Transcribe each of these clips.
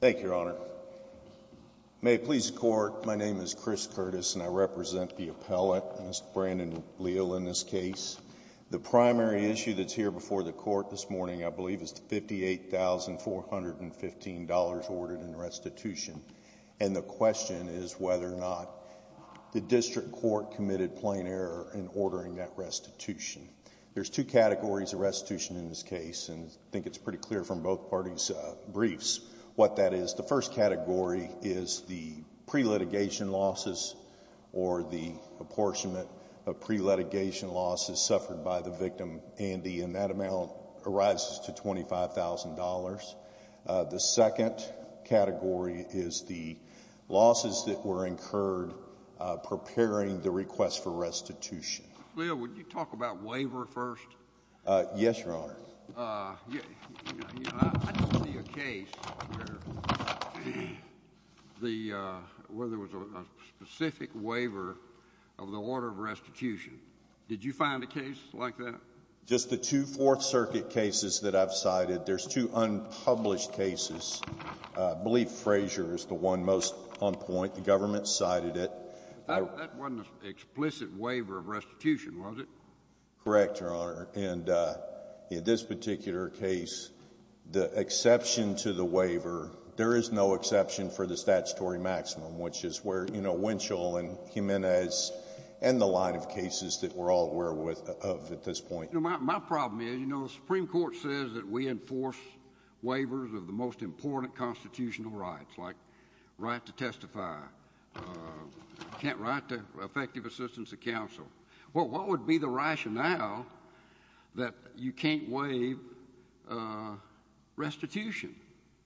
Thank you, Your Honor. May it please the Court, my name is Chris Curtis and I represent the appellate, Mr. Brandon Leal, in this case. The primary issue that's here before the Court this morning, I believe, is the $58,415 ordered in restitution, and the question is whether or not the district court committed plain error in ordering that restitution. There's two categories of restitution in this case, and I think it's pretty clear from both apportionment of pre-litigation losses suffered by the victim, Andy, and that amount arises to $25,000. The second category is the losses that were incurred preparing the request for restitution. Mr. Leal, would you talk about waiver first? Mr. Leal Yes, Your Honor. Mr. Curtis I don't see a case where there was a specific waiver of the order of restitution. Did you find a case like that? Mr. Leal Just the two Fourth Circuit cases that I've cited, there's two unpublished cases. I believe Frazier is the one most on point. The government cited it. Mr. Curtis That wasn't an explicit waiver of restitution, was it? Mr. Leal Correct, Your Honor, and in this particular case, the exception to the waiver, there is no exception for the statutory maximum, which is where, you know, Winchell and Jimenez and the line of cases that we're all aware of at this point. Mr. Curtis My problem is, you know, the Supreme Court says that we enforce waivers of the most important constitutional rights, like right to testify, can't write to effective assistance of counsel. Well, what would be the rationale that you can't waive restitution?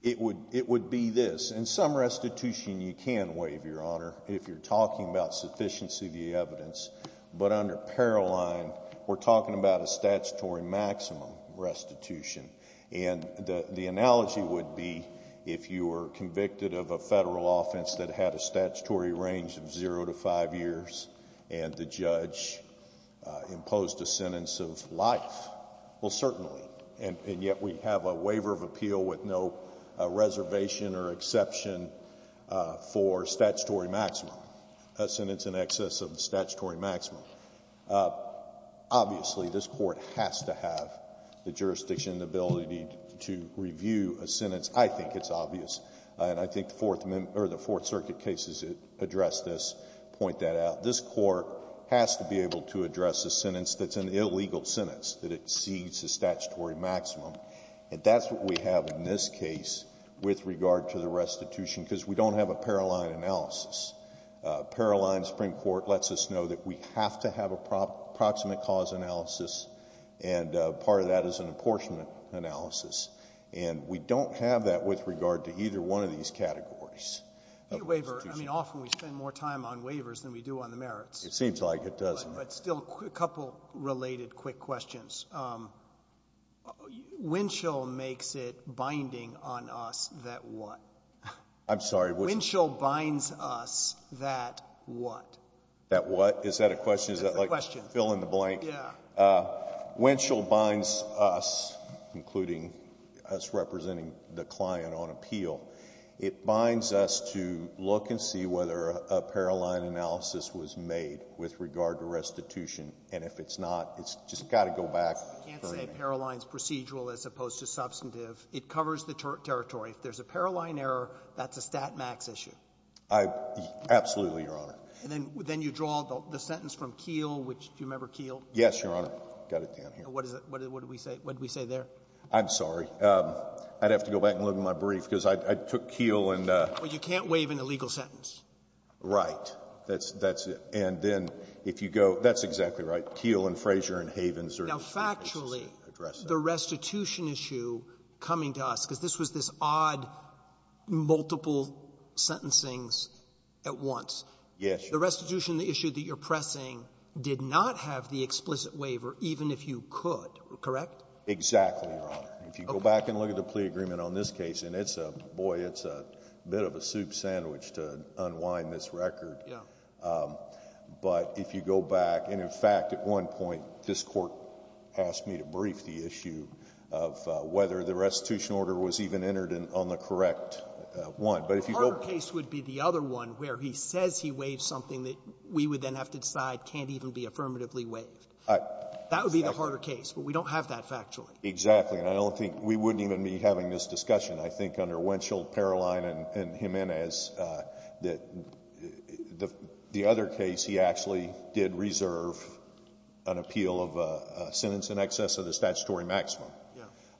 Mr. Leal It would be this. In some restitution, you can waive, Your Honor, if you're talking about sufficiency of the evidence, but under Paroline, we're talking about a statutory maximum restitution. And the analogy would be if you were convicted of a Federal offense that had a statutory range of zero to five years, and the judge imposed a sentence of life. Well, certainly, and yet we have a waiver of appeal with no reservation or exception for statutory maximum, a sentence in excess of the statutory maximum. Obviously, this Court has to have the jurisdiction, the ability to review a sentence. I think it's obvious. And I think the Fourth Amendment or the Fourth Circuit cases address this, point that out. This Court has to be able to address a sentence that's an illegal sentence that exceeds the statutory maximum. And that's what we have in this case with regard to the restitution, because we don't have a Paroline analysis. Paroline Supreme Court, you know, that we have to have a proximate cause analysis, and part of that is an apportionment analysis. And we don't have that with regard to either one of these categories. The waiver, I mean, often we spend more time on waivers than we do on the merits. It seems like it does. But still, a couple related quick questions. Winchell makes it binding on us that what? I'm sorry, which? Winchell binds us that what? That what? Is that a question? Is that like fill in the blank? Yeah. Winchell binds us, including us representing the client on appeal, it binds us to look and see whether a Paroline analysis was made with regard to restitution. And if it's not, it's just got to go back. You can't say Paroline's procedural as opposed to substantive. It covers the territory. If there's a Paroline error, that's a stat max issue. I — absolutely, Your Honor. And then you draw the sentence from Keele, which — do you remember Keele? Yes, Your Honor. Got it down here. What is it? What did we say? What did we say there? I'm sorry. I'd have to go back and look at my brief, because I took Keele and — Well, you can't waive an illegal sentence. Right. That's it. And then if you go — that's exactly right. Keele and Frazier and Havens are the two cases that address that. Now, factually, the restitution issue coming to us, because this was this odd multiple sentencing at once. Yes. The restitution issue that you're pressing did not have the explicit waiver, even if you could. Correct? Exactly, Your Honor. If you go back and look at the plea agreement on this case, and it's a — boy, it's a bit of a soup sandwich to unwind this record. Yeah. But if you go back — and, in fact, at one point, this Court asked me to brief the issue of whether the restitution order was even entered on the correct one. The harder case would be the other one, where he says he waived something that we would then have to decide can't even be affirmatively waived. That would be the harder case. But we don't have that factually. Exactly. And I don't think — we wouldn't even be having this discussion, I think, under Winchell, Paroline, and Jimenez, that the other case, he actually did reserve an appeal of a sentence in excess of the statutory maximum.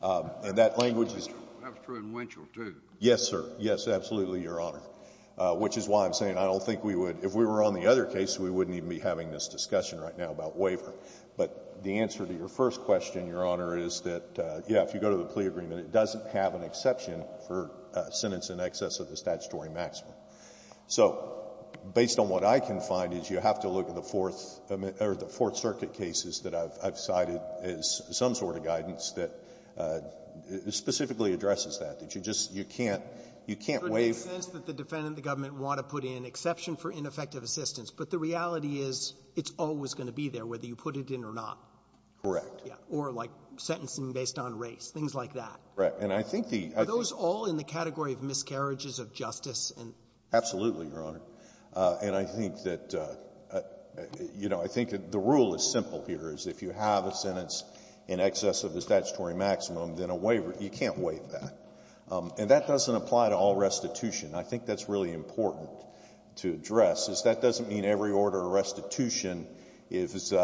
Yeah. And that language is — That's true in Winchell, too. Yes, sir. Yes, absolutely, Your Honor, which is why I'm saying I don't think we would — if we were on the other case, we wouldn't even be having this discussion right now about waiver. But the answer to your first question, Your Honor, is that, yeah, if you go to the plea agreement, it doesn't have an exception for a sentence in excess of the statutory maximum. So based on what I can find is you have to look at the Fourth — or the Fourth Circuit cases that I've cited as some sort of guidance that specifically addresses that, that you just — you can't — you can't waive — It would make sense that the defendant, the government, want to put in exception for ineffective assistance. But the reality is it's always going to be there, whether you put it in or not. Correct. Yeah. Or like sentencing based on race, things like that. Right. And I think the — Are those all in the category of miscarriages of justice and — Absolutely, Your Honor. And I think that — you know, I think the rule is simple here, is if you have a sentence in excess of the statutory maximum, then a waiver — you can't waive that. And that doesn't apply to all restitution. I think that's really important to address, is that doesn't mean every order of restitution is —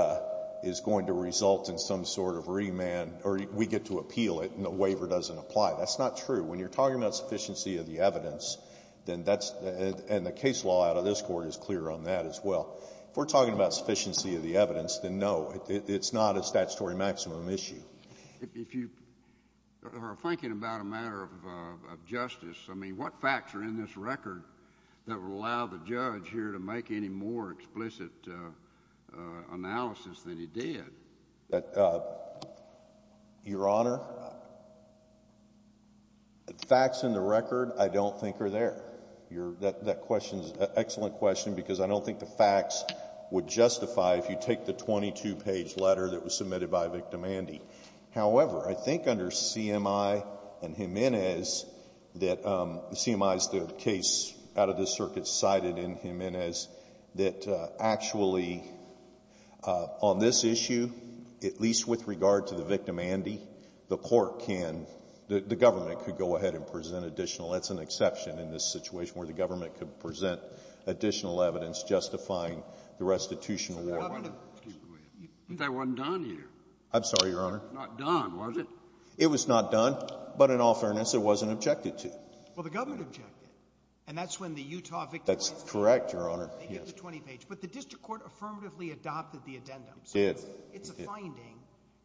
is going to result in some sort of remand, or we get to appeal it and the waiver doesn't apply. That's not true. When you're talking about sufficiency of the evidence, then that's — and the case law out of this Court is clear on that as well. If we're talking about sufficiency of the evidence, then no, it's not a statutory maximum issue. If you are thinking about a matter of justice, I mean, what facts are in this record that would allow the judge here to make any more explicit analysis than he did? Your Honor, the facts in the record I don't think are there. That question is an excellent question because I don't think the facts would justify, if you take the 22-page letter that was submitted by Victim-Andy. However, I think under CMI and Jimenez that — CMI is the case out of this circuit cited in Jimenez — that actually, on this issue, at least with regard to the Victim-Andy, the Court can — the government could go ahead and present additional — that's an exception in this situation where the government could present additional evidence justifying the restitution award. But that wasn't done here. I'm sorry, Your Honor. It was not done, was it? It was not done, but in all fairness, it wasn't objected to. Well, the government objected. And that's when the Utah Victim-Andy — That's correct, Your Honor. Yes. They get the 20-page. But the district court affirmatively adopted the addendum. It did. It did. So it's a finding.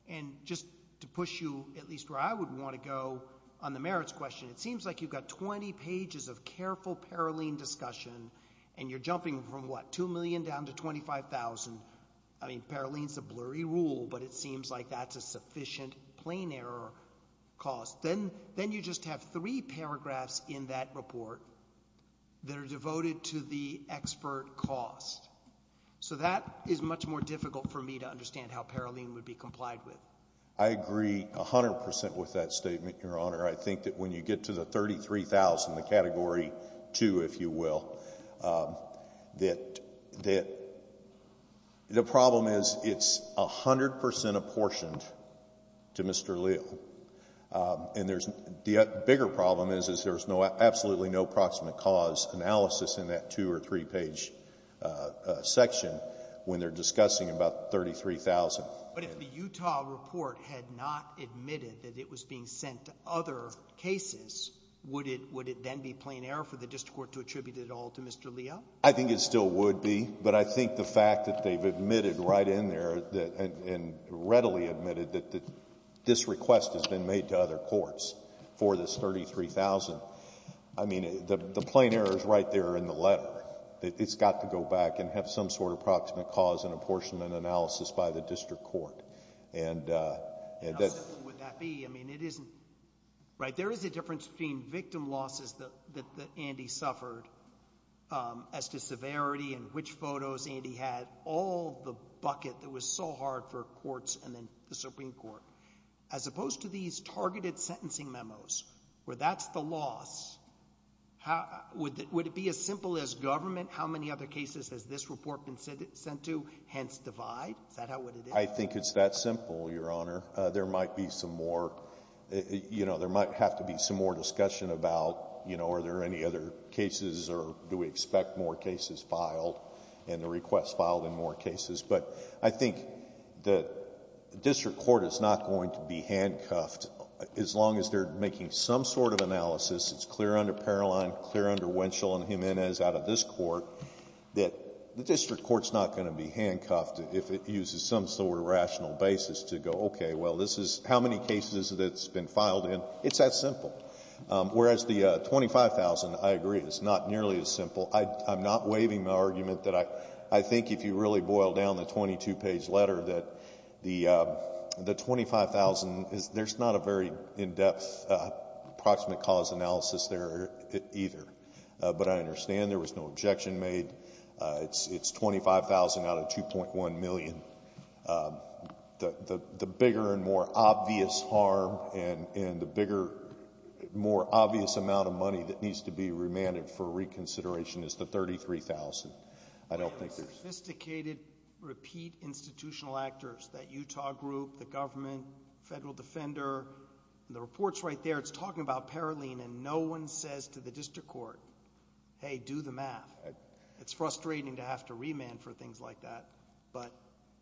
And just to push you at least where I would want to go on the merits question, it seems like you've got 20 pages of careful Paroline discussion, and you're jumping from, what, two million down to 25,000. I mean, Paroline's a blurry rule, but it seems like that's a sufficient plain error cost. Then — then you just have three paragraphs in that report that are devoted to the expert cost. So that is much more difficult for me to understand how Paroline would be complied with. I agree 100 percent with that statement, Your Honor. I think that when you get to the 33,000, the Category 2, if you will, that — that the problem is it's 100 percent apportioned to Mr. Leal. And there's — the bigger problem is, is there's no — absolutely no proximate cause analysis in that two- or three-page section when they're discussing about 33,000. But if the Utah report had not admitted that it was being sent to other cases, would it — would it then be plain error for the district court to attribute it all to Mr. Leal? I think it still would be. But I think the fact that they've admitted right in there that — and readily admitted that this request has been made to other courts for this 33,000 — I mean, the plain error is right there in the letter. It's got to go back and have some sort of proximate cause and apportionment analysis by the district court. And — How simple would that be? I mean, it isn't — right, there is a difference between victim losses that — that Andy suffered as to severity and which photos Andy had, all the bucket that was so hard for courts and then the Supreme Court. As opposed to these targeted sentencing memos, where that's the loss, how — would it be as simple as government, how many other cases has this report been sent to, hence this divide? Is that how it would be? I think it's that simple, Your Honor. There might be some more — you know, there might have to be some more discussion about, you know, are there any other cases or do we expect more cases filed, and the requests filed in more cases. But I think that the district court is not going to be handcuffed, as long as they're making some sort of analysis that's clear under Paroline, clear under Wenschel and Jimenez out of this Court, that the district court's not going to be handcuffed if it uses some sort of rational basis to go, okay, well, this is — how many cases that it's been filed in. It's that simple. Whereas the 25,000, I agree, is not nearly as simple. I'm not waiving my argument that I — I think if you really boil down the 22-page letter that the — the 25,000 is — there's not a very in-depth approximate cause analysis there either. But I understand there was no objection made. It's 25,000 out of 2.1 million. The bigger and more obvious harm and the bigger, more obvious amount of money that needs to be remanded for reconsideration is the 33,000. I don't think there's... And the sophisticated, repeat institutional actors, that Utah group, the government, federal defender, the report's right there, it's talking about Paroline and no one says to the district court, hey, do the math. It's frustrating to have to remand for things like that. But...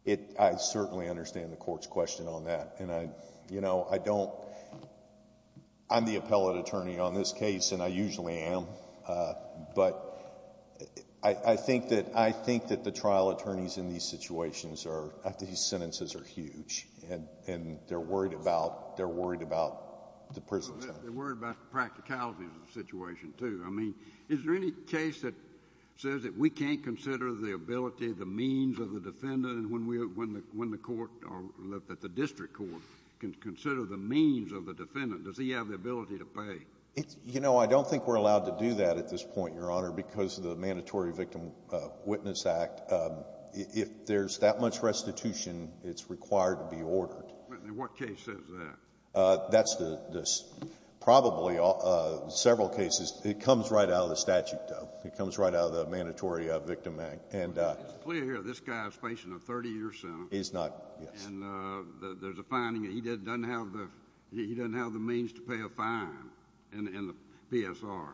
It — I certainly understand the Court's question on that. And I, you know, I don't — I'm the appellate attorney on this case, and I usually am. But I think that — I think that the trial attorneys in these situations are — these sentences are huge, and they're worried about — they're worried about the prison sentence. They're worried about the practicality of the situation, too. I mean, is there any case that says that we can't consider the ability, the means of the defendant when we — when the court or the district court can consider the means of the defendant? Does he have the ability to pay? You know, I don't think we're allowed to do that at this point, Your Honor, because of the Mandatory Victim Witness Act. If there's that much restitution, it's required to be ordered. What case says that? That's the — probably several cases. It comes right out of the statute, though. It comes right out of the Mandatory Victim Act. And — It's clear here this guy is facing a 30-year sentence. He's not, yes. And there's a finding that he doesn't have the — he doesn't have the means to pay a fine in the PSR.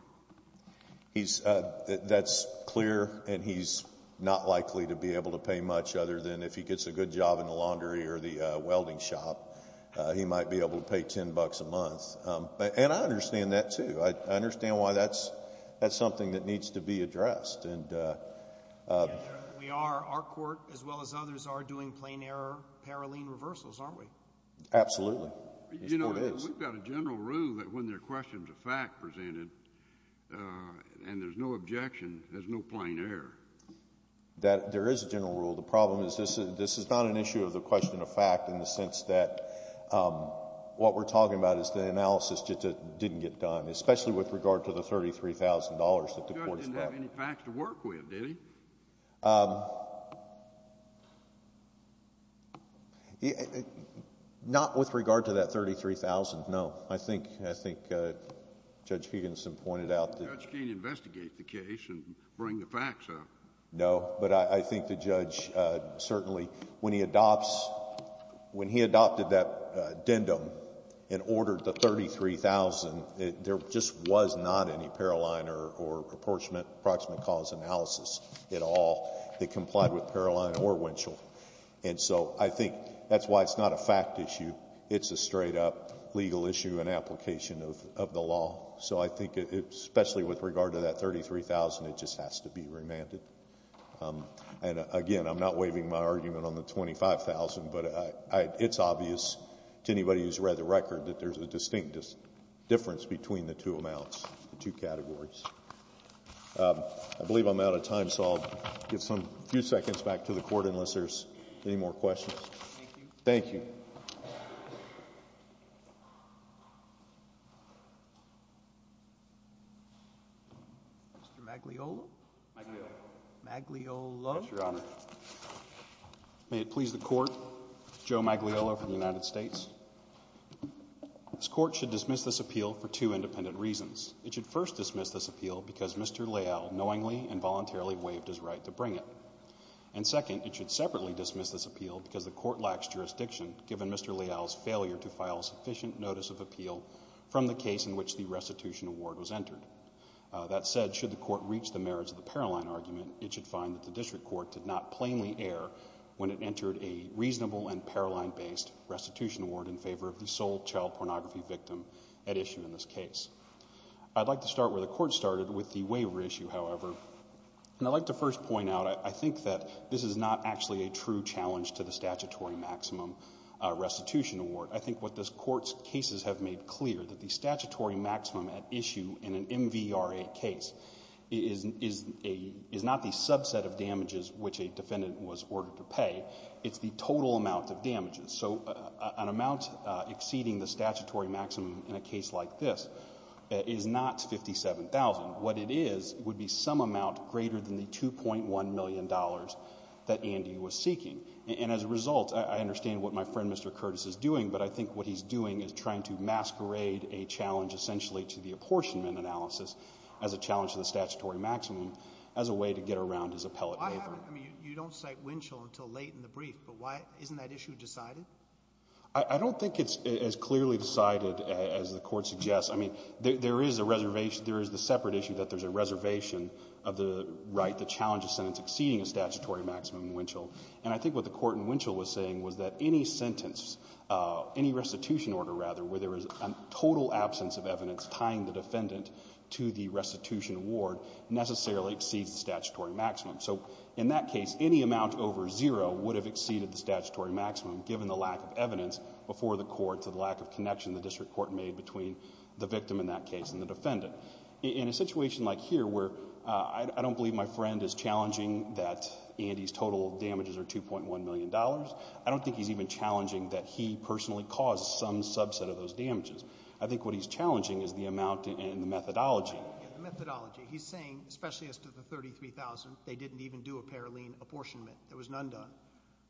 He's — that's clear, and he's not likely to be able to pay much other than if he gets a good job in the laundry or the welding shop. He might be able to pay $10 a month. And I understand that, too. I understand why that's — that's something that needs to be addressed. And — Yes, Your Honor. We are — our court, as well as others, are doing plain-error, paraline reversals, aren't we? Absolutely. It still is. But, you know, we've got a general rule that when there are questions of fact presented and there's no objection, there's no plain error. That — there is a general rule. The problem is this is not an issue of the question of fact in the sense that what we're talking about is the analysis just didn't get done, especially with regard to the $33,000 that the court is — The judge didn't have any facts to work with, did he? Not with regard to that $33,000, no. I think — I think Judge Higginson pointed out that — The judge can't investigate the case and bring the facts up. No. But I think the judge certainly — when he adopts — when he adopted that addendum and ordered the $33,000, there just was not any paraline or approximate cause analysis at all that complied with paraline or Winchell. And so I think that's why it's not a fact issue. It's a straight-up legal issue and application of the law. So I think it — especially with regard to that $33,000, it just has to be remanded. And again, I'm not waiving my argument on the $25,000, but I — it's obvious to anybody who's read the record that there's a distinct difference between the two amounts, the two categories. I believe I'm out of time, so I'll give some — a few seconds back to the court unless Thank you. Mr. Magliolo. Magliolo. Magliolo. Yes, Your Honor. May it please the Court, Joe Magliolo for the United States. This Court should dismiss this appeal for two independent reasons. It should first dismiss this appeal because Mr. Leal knowingly and voluntarily waived his right to bring it. And second, it should separately dismiss this appeal because the Court lacks jurisdiction given Mr. Leal's failure to file sufficient notice of appeal from the case in which the restitution award was entered. That said, should the Court reach the merits of the Paroline argument, it should find that the District Court did not plainly err when it entered a reasonable and Paroline-based restitution award in favor of the sole child pornography victim at issue in this case. I'd like to start where the Court started with the waiver issue, however. And I'd like to first point out, I think that this is not actually a true challenge to the statutory maximum restitution award. I think what this Court's cases have made clear, that the statutory maximum at issue in an MVRA case is not the subset of damages which a defendant was ordered to pay, it's the total amount of damages. So an amount exceeding the statutory maximum in a case like this is not $57,000. What it is would be some amount greater than the $2.1 million that Andy was seeking. And as a result, I understand what my friend Mr. Curtis is doing, but I think what he's doing is trying to masquerade a challenge essentially to the apportionment analysis as a challenge to the statutory maximum as a way to get around his appellate waiver. Sotomayor, I mean, you don't cite Winchell until late in the brief, but why isn't that issue decided? I don't think it's as clearly decided as the Court suggests. I mean, there is a reservation. There is the separate issue that there's a reservation of the right, the challenge of sentence exceeding a statutory maximum in Winchell. And I think what the Court in Winchell was saying was that any sentence, any restitution order rather, where there is a total absence of evidence tying the defendant to the restitution award necessarily exceeds the statutory maximum. So in that case, any amount over zero would have exceeded the statutory maximum given the lack of evidence before the Court to the lack of connection the district court made between the victim in that case and the defendant. In a situation like here where I don't believe my friend is challenging that Andy's total damages are $2.1 million, I don't think he's even challenging that he personally caused some subset of those damages. I think what he's challenging is the amount and the methodology. The methodology. He's saying, especially as to the $33,000, they didn't even do a paralene apportionment. There was none done.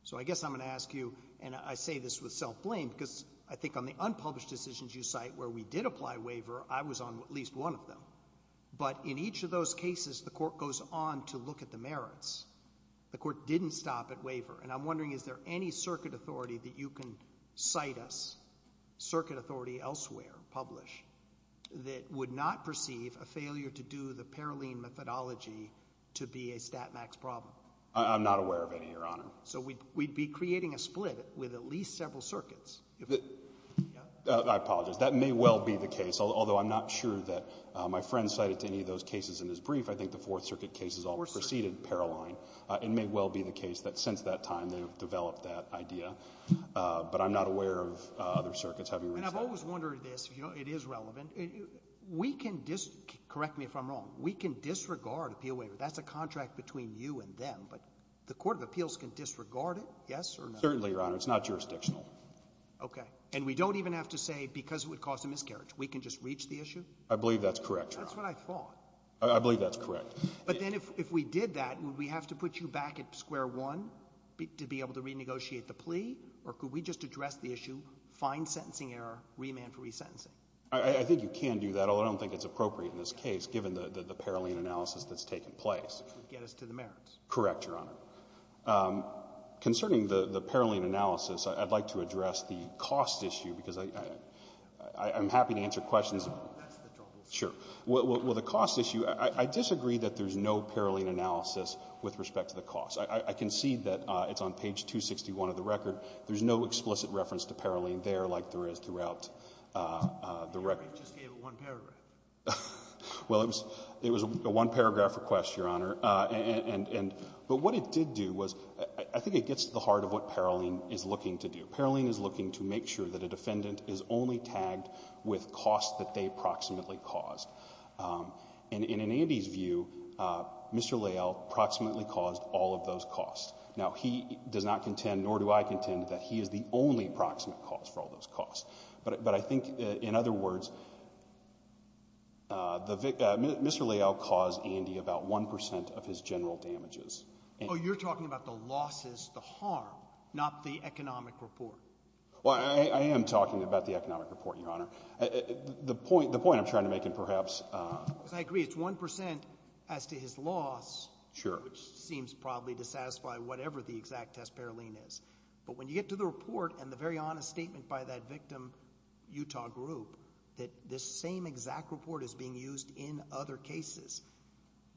So I guess I'm going to ask you, and I say this with self-blame because I think on the unpublished decisions you cite where we did apply waiver, I was on at least one of them. But in each of those cases, the Court goes on to look at the merits. The Court didn't stop at waiver. And I'm wondering, is there any circuit authority that you can cite us, circuit authority elsewhere, publish, that would not perceive a failure to do the paralene methodology to be a stat max problem? I'm not aware of any, Your Honor. So we'd be creating a split with at least several circuits. I apologize. That may well be the case, although I'm not sure that my friend cited any of those cases in his brief. I think the Fourth Circuit case is all preceded paralene. It may well be the case that since that time, they've developed that idea. But I'm not aware of other circuits having reached that. And I've always wondered this, if you don't know, it is relevant. We can dis – correct me if I'm wrong – we can disregard appeal waiver. That's a contract between you and them. But the Court of Appeals can disregard it, yes or no? Certainly, Your Honor. It's not jurisdictional. Okay. And we don't even have to say because it would cause a miscarriage. We can just reach the issue? I believe that's correct, Your Honor. That's what I thought. I believe that's correct. But then if we did that, would we have to put you back at square one to be able to renegotiate the plea? Or could we just address the issue, find sentencing error, remand for resentencing? I think you can do that, although I don't think it's appropriate in this case, given the paralene analysis that's taken place. Which would get us to the merits. Correct, Your Honor. Concerning the paralene analysis, I'd like to address the cost issue, because I'm happy to answer questions. That's the trouble. Sure. Well, the cost issue, I disagree that there's no paralene analysis with respect to the cost. I can see that it's on page 261 of the record. There's no explicit reference to paralene there like there is throughout the record. You just gave it one paragraph. Well, it was a one-paragraph request, Your Honor. But what it did do was, I think it gets to the heart of what paralene is looking to do. Paralene is looking to make sure that a defendant is only tagged with costs that they approximately caused. And in Andy's view, Mr. Leal approximately caused all of those costs. Now, he does not contend, nor do I contend, that he is the only approximate cause for all those costs. But I think, in other words, Mr. Leal caused Andy about 1% of his general damages. Oh, you're talking about the losses, the harm, not the economic report. Well, I am talking about the economic report, Your Honor. The point I'm trying to make, and perhaps... Because I agree, it's 1% as to his loss seems probably to satisfy whatever the exact test paralene is. But when you get to the report and the very honest statement by that victim, Utah Group, that this same exact report is being used in other cases,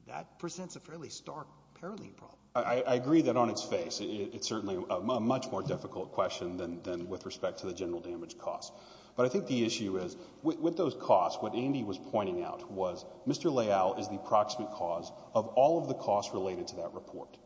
that presents a fairly stark paralene problem. I agree that on its face, it's certainly a much more difficult question than with respect to the general damage costs. But I think the issue is, with those costs, what Andy was pointing out was, Mr. Leal is the approximate cause of all of the costs related to that report.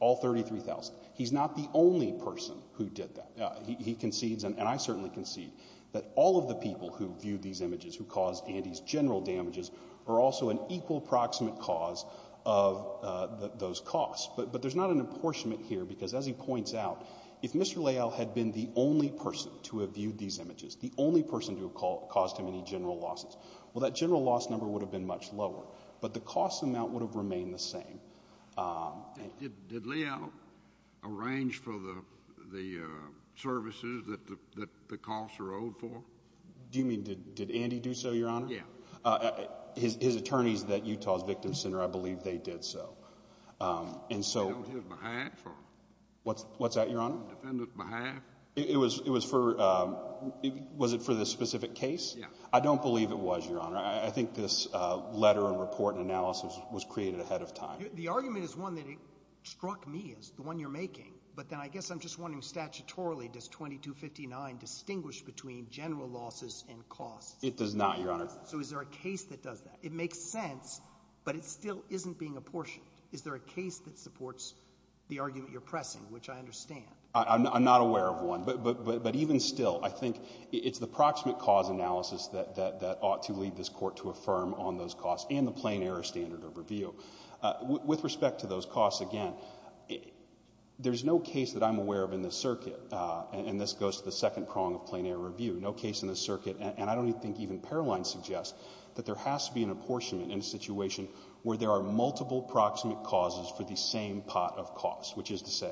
All 33,000. He's not the only person who did that. He concedes, and I certainly concede, that all of the people who viewed these images, who caused Andy's general damages, are also an equal approximate cause of those costs. But there's not an apportionment here. Because as he points out, if Mr. Leal had been the only person to have viewed these images, the only person to have caused him any general losses, well, that general loss number would have been much lower. But the cost amount would have remained the same. Did Leal arrange for the services that the costs are owed for? Do you mean, did Andy do so, Your Honor? Yeah. His attorneys at Utah's Victim Center, I believe they did so. And so... They owed his behalf? What's that, Your Honor? Defendant's behalf? It was for... was it for this specific case? I don't believe it was, Your Honor. I think this letter and report and analysis was created ahead of time. The argument is one that struck me as the one you're making. But then I guess I'm just wondering, statutorily, does 2259 distinguish between general losses and costs? It does not, Your Honor. So is there a case that does that? It makes sense, but it still isn't being apportioned. Is there a case that supports the argument you're pressing, which I understand? I'm not aware of one. But even still, I think it's the proximate cause analysis that ought to lead this Court to affirm on those costs and the plain error standard of review. With respect to those costs, again, there's no case that I'm aware of in the circuit, and this goes to the second prong of plain error review, no case in the circuit, and I don't even think even Paroline suggests, that there has to be an apportionment in a situation where there are multiple proximate causes for the same pot of costs, which is to say,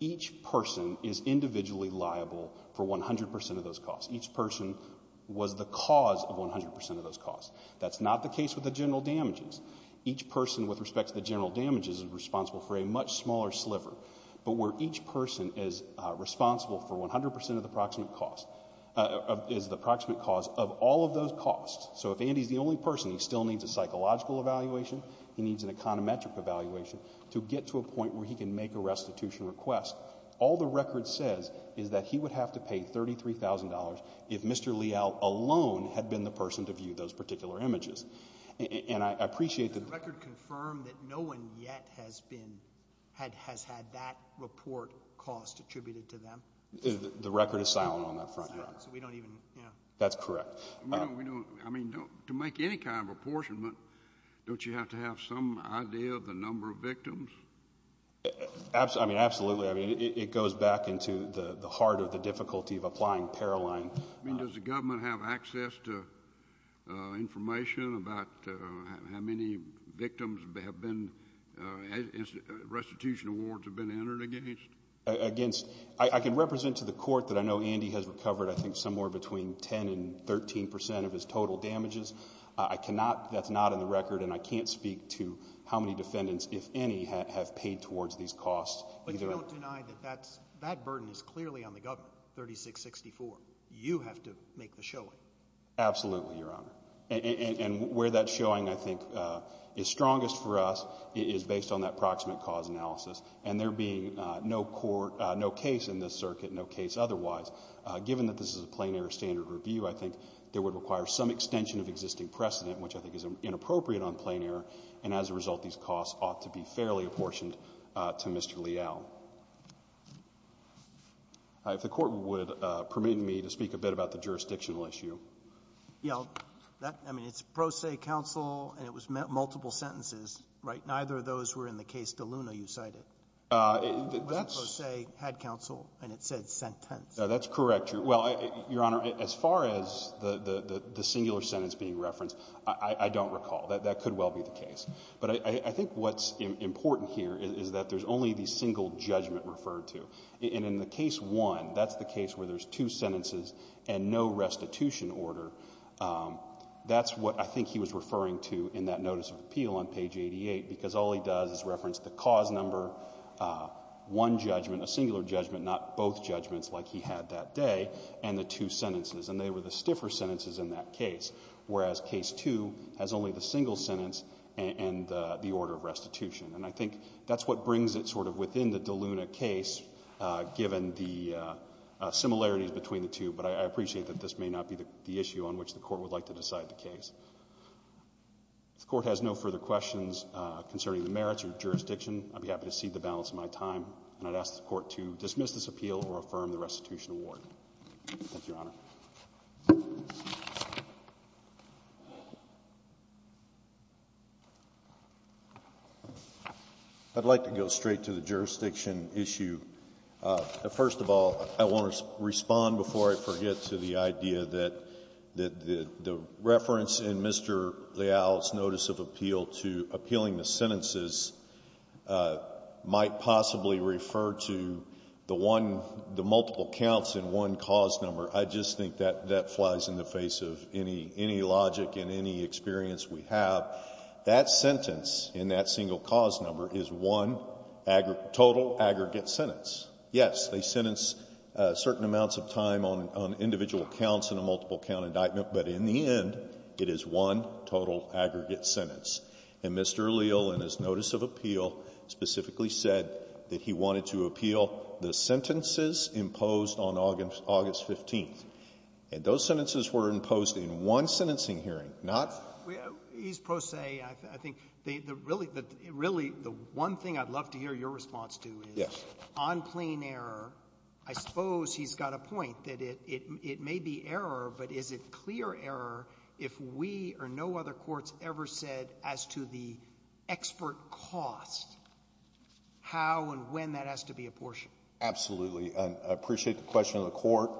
each person is individually liable for 100% of those costs. Each person was the cause of 100% of those costs. That's not the case with the general damages. Each person, with respect to the general damages, is responsible for a much smaller sliver. But where each person is responsible for 100% of the proximate cause, is the proximate cause of all of those costs. So if Andy's the only person, he still needs a psychological evaluation, he needs an econometric evaluation, to get to a point where he can make a restitution request, all the record says is that he would have to pay $33,000 if Mr. Leal alone had been the person to view those particular images. And I appreciate the... The record confirmed that no one yet has been, has had that report cost attributed to them? The record is silent on that front, yeah. That's correct. We don't, I mean, to make any kind of apportionment, don't you have to have some idea of the number of victims? Absolutely. I mean, absolutely. I mean, it goes back into the heart of the difficulty of applying Paraline. I mean, does the government have access to information about how many victims have been, restitution awards have been entered against? Against... I can represent to the court that I know Andy has recovered, I think, somewhere between 10 and 13% of his total damages. I cannot, that's not in the record, and I can't speak to how many defendants, if any, have paid towards these costs. But you don't deny that that burden is clearly on the government, 3664. You have to make the showing. Absolutely, Your Honor. And where that showing, I think, is strongest for us is based on that proximate cause analysis. And there being no court, no case in this circuit, no case otherwise, given that this is a plain air standard review, I think there would require some extension of existing precedent, which I think is inappropriate on plain air. And as a result, these costs ought to be fairly apportioned to Mr. Leal. If the court would permit me to speak a bit about the jurisdictional issue. Yeah, I mean, it's pro se counsel, and it was multiple sentences, right? Neither of those were in the case DeLuna you cited. That's... It was pro se, had counsel, and it said sentence. That's correct. Well, Your Honor, as far as the singular sentence being referenced, I don't recall. That could well be the case. But I think what's important here is that there's only the single judgment referred to. And in the case one, that's the case where there's two sentences and no restitution order. That's what I think he was referring to in that notice of appeal on page 88, because all he does is reference the cause number, one judgment, a singular judgment, not both that day, and the two sentences. And they were the stiffer sentences in that case, whereas case two has only the single sentence and the order of restitution. And I think that's what brings it sort of within the DeLuna case, given the similarities between the two. But I appreciate that this may not be the issue on which the court would like to decide the case. If the court has no further questions concerning the merits or jurisdiction, I'd be happy to cede the balance of my time, and I'd ask the court to dismiss this appeal or affirm the restitution award. Thank you, Your Honor. I'd like to go straight to the jurisdiction issue. First of all, I want to respond before I forget to the idea that the reference in Mr. Leal's notice of appeal to appealing the sentences might possibly refer to the multiple counts in one cause number. I just think that that flies in the face of any logic and any experience we have. That sentence in that single cause number is one aggregate — total aggregate sentence. Yes, they sentence certain amounts of time on individual counts in a multiple count indictment, but in the end, it is one total aggregate sentence. And Mr. Leal, in his notice of appeal, specifically said that he wanted to appeal the sentences imposed on August 15th. And those sentences were imposed in one sentencing hearing, not — He's pro se. I think the — really, the one thing I'd love to hear your response to is on plain error, I suppose he's got a point that it may be error, but is it clear error if we or no other courts ever said as to the expert cost how and when that has to be apportioned Absolutely. And I appreciate the question of the Court.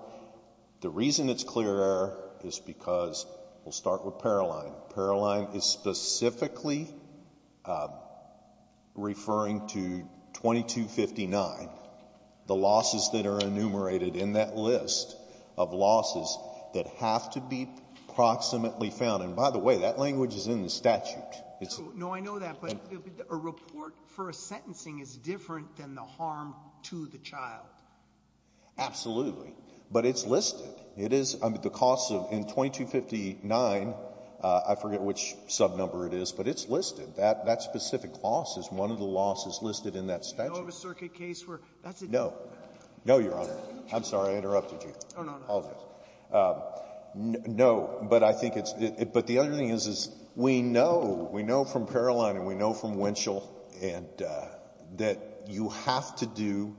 The reason it's clear error is because — we'll start with Paroline. Paroline is specifically referring to 2259, the losses that are enumerated in that list of losses that have to be proximately found. And by the way, that language is in the statute. No, I know that. But a report for a sentencing is different than the harm to the child. Absolutely. But it's listed. It is. I mean, the cost of — in 2259, I forget which subnumber it is, but it's listed. That specific loss is one of the losses listed in that statute. Do you know of a circuit case where that's a — No. No, Your Honor. I'm sorry I interrupted you. Oh, no, no. Apologies. No, but I think it's — but the other thing is, is we know, we know from Paroline and we know from Winchell and — that you have to do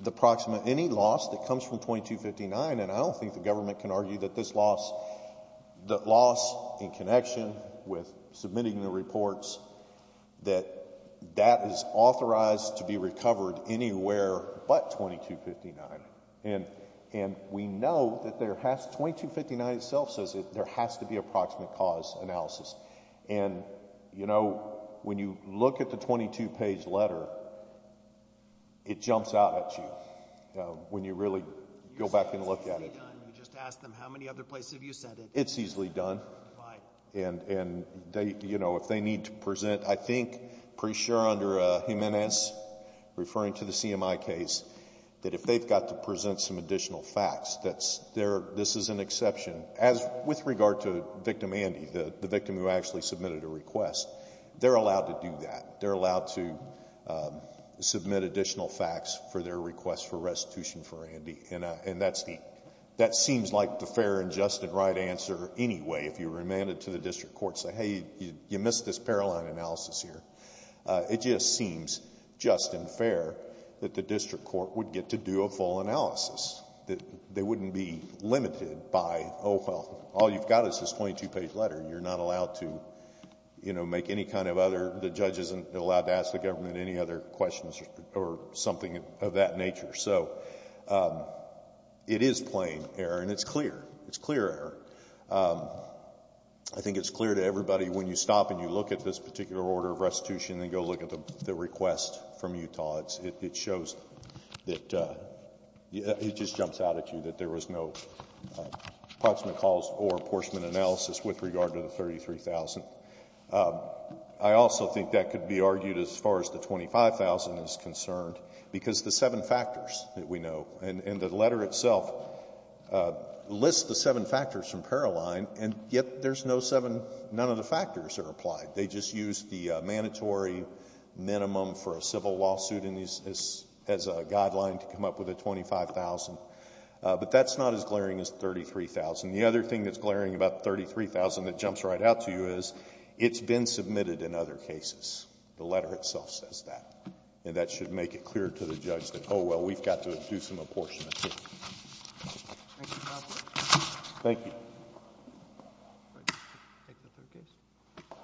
the proximate — any loss that comes from 2259, and I don't think the government can argue that this loss — that loss in connection with submitting the reports, that that is authorized to be recovered anywhere but 2259. And we know that there has — 2259 itself says there has to be a proximate cause analysis. And, you know, when you look at the 22-page letter, it jumps out at you when you really go back and look at it. It's easily done. You just ask them, how many other places have you sent it? It's easily done. Why? And they — you know, if they need to present, I think, pretty sure under Jimenez, referring to the CMI case, that if they've got to present some additional facts, that's their — this is an exception. As with regard to victim Andy, the victim who actually submitted a request, they're allowed to do that. They're allowed to submit additional facts for their request for restitution for Andy. And that's the — that seems like the fair and just and right answer anyway, if you remand it to the district court, say, hey, you missed this Paroline analysis here. It just seems just and fair that the district court would get to do a full analysis, that they wouldn't be limited by, oh, well, all you've got is this 22-page letter. You're not allowed to, you know, make any kind of other — the judge isn't allowed to ask the government any other questions or something of that nature. So it is plain error, and it's clear. It's clear error. I think it's clear to everybody, when you stop and you look at this particular order of restitution and you go look at the request from Utah, it shows that — it just jumps out at you that there was no Parchman calls or Parchman analysis with regard to the 33,000. I also think that could be argued as far as the 25,000 is concerned, because the seven factors that we know, and the letter itself lists the seven factors from Paroline, and yet there's no seven — none of the factors are applied. They just use the mandatory minimum for a civil lawsuit as a guideline to come up with a 25,000. But that's not as glaring as the 33,000. The other thing that's glaring about the 33,000 that jumps right out to you is it's been submitted in other cases. The letter itself says that. And that should make it clear to the judge that, oh, well, we've got to do some apportionment here. Thank you. I'll take the third case.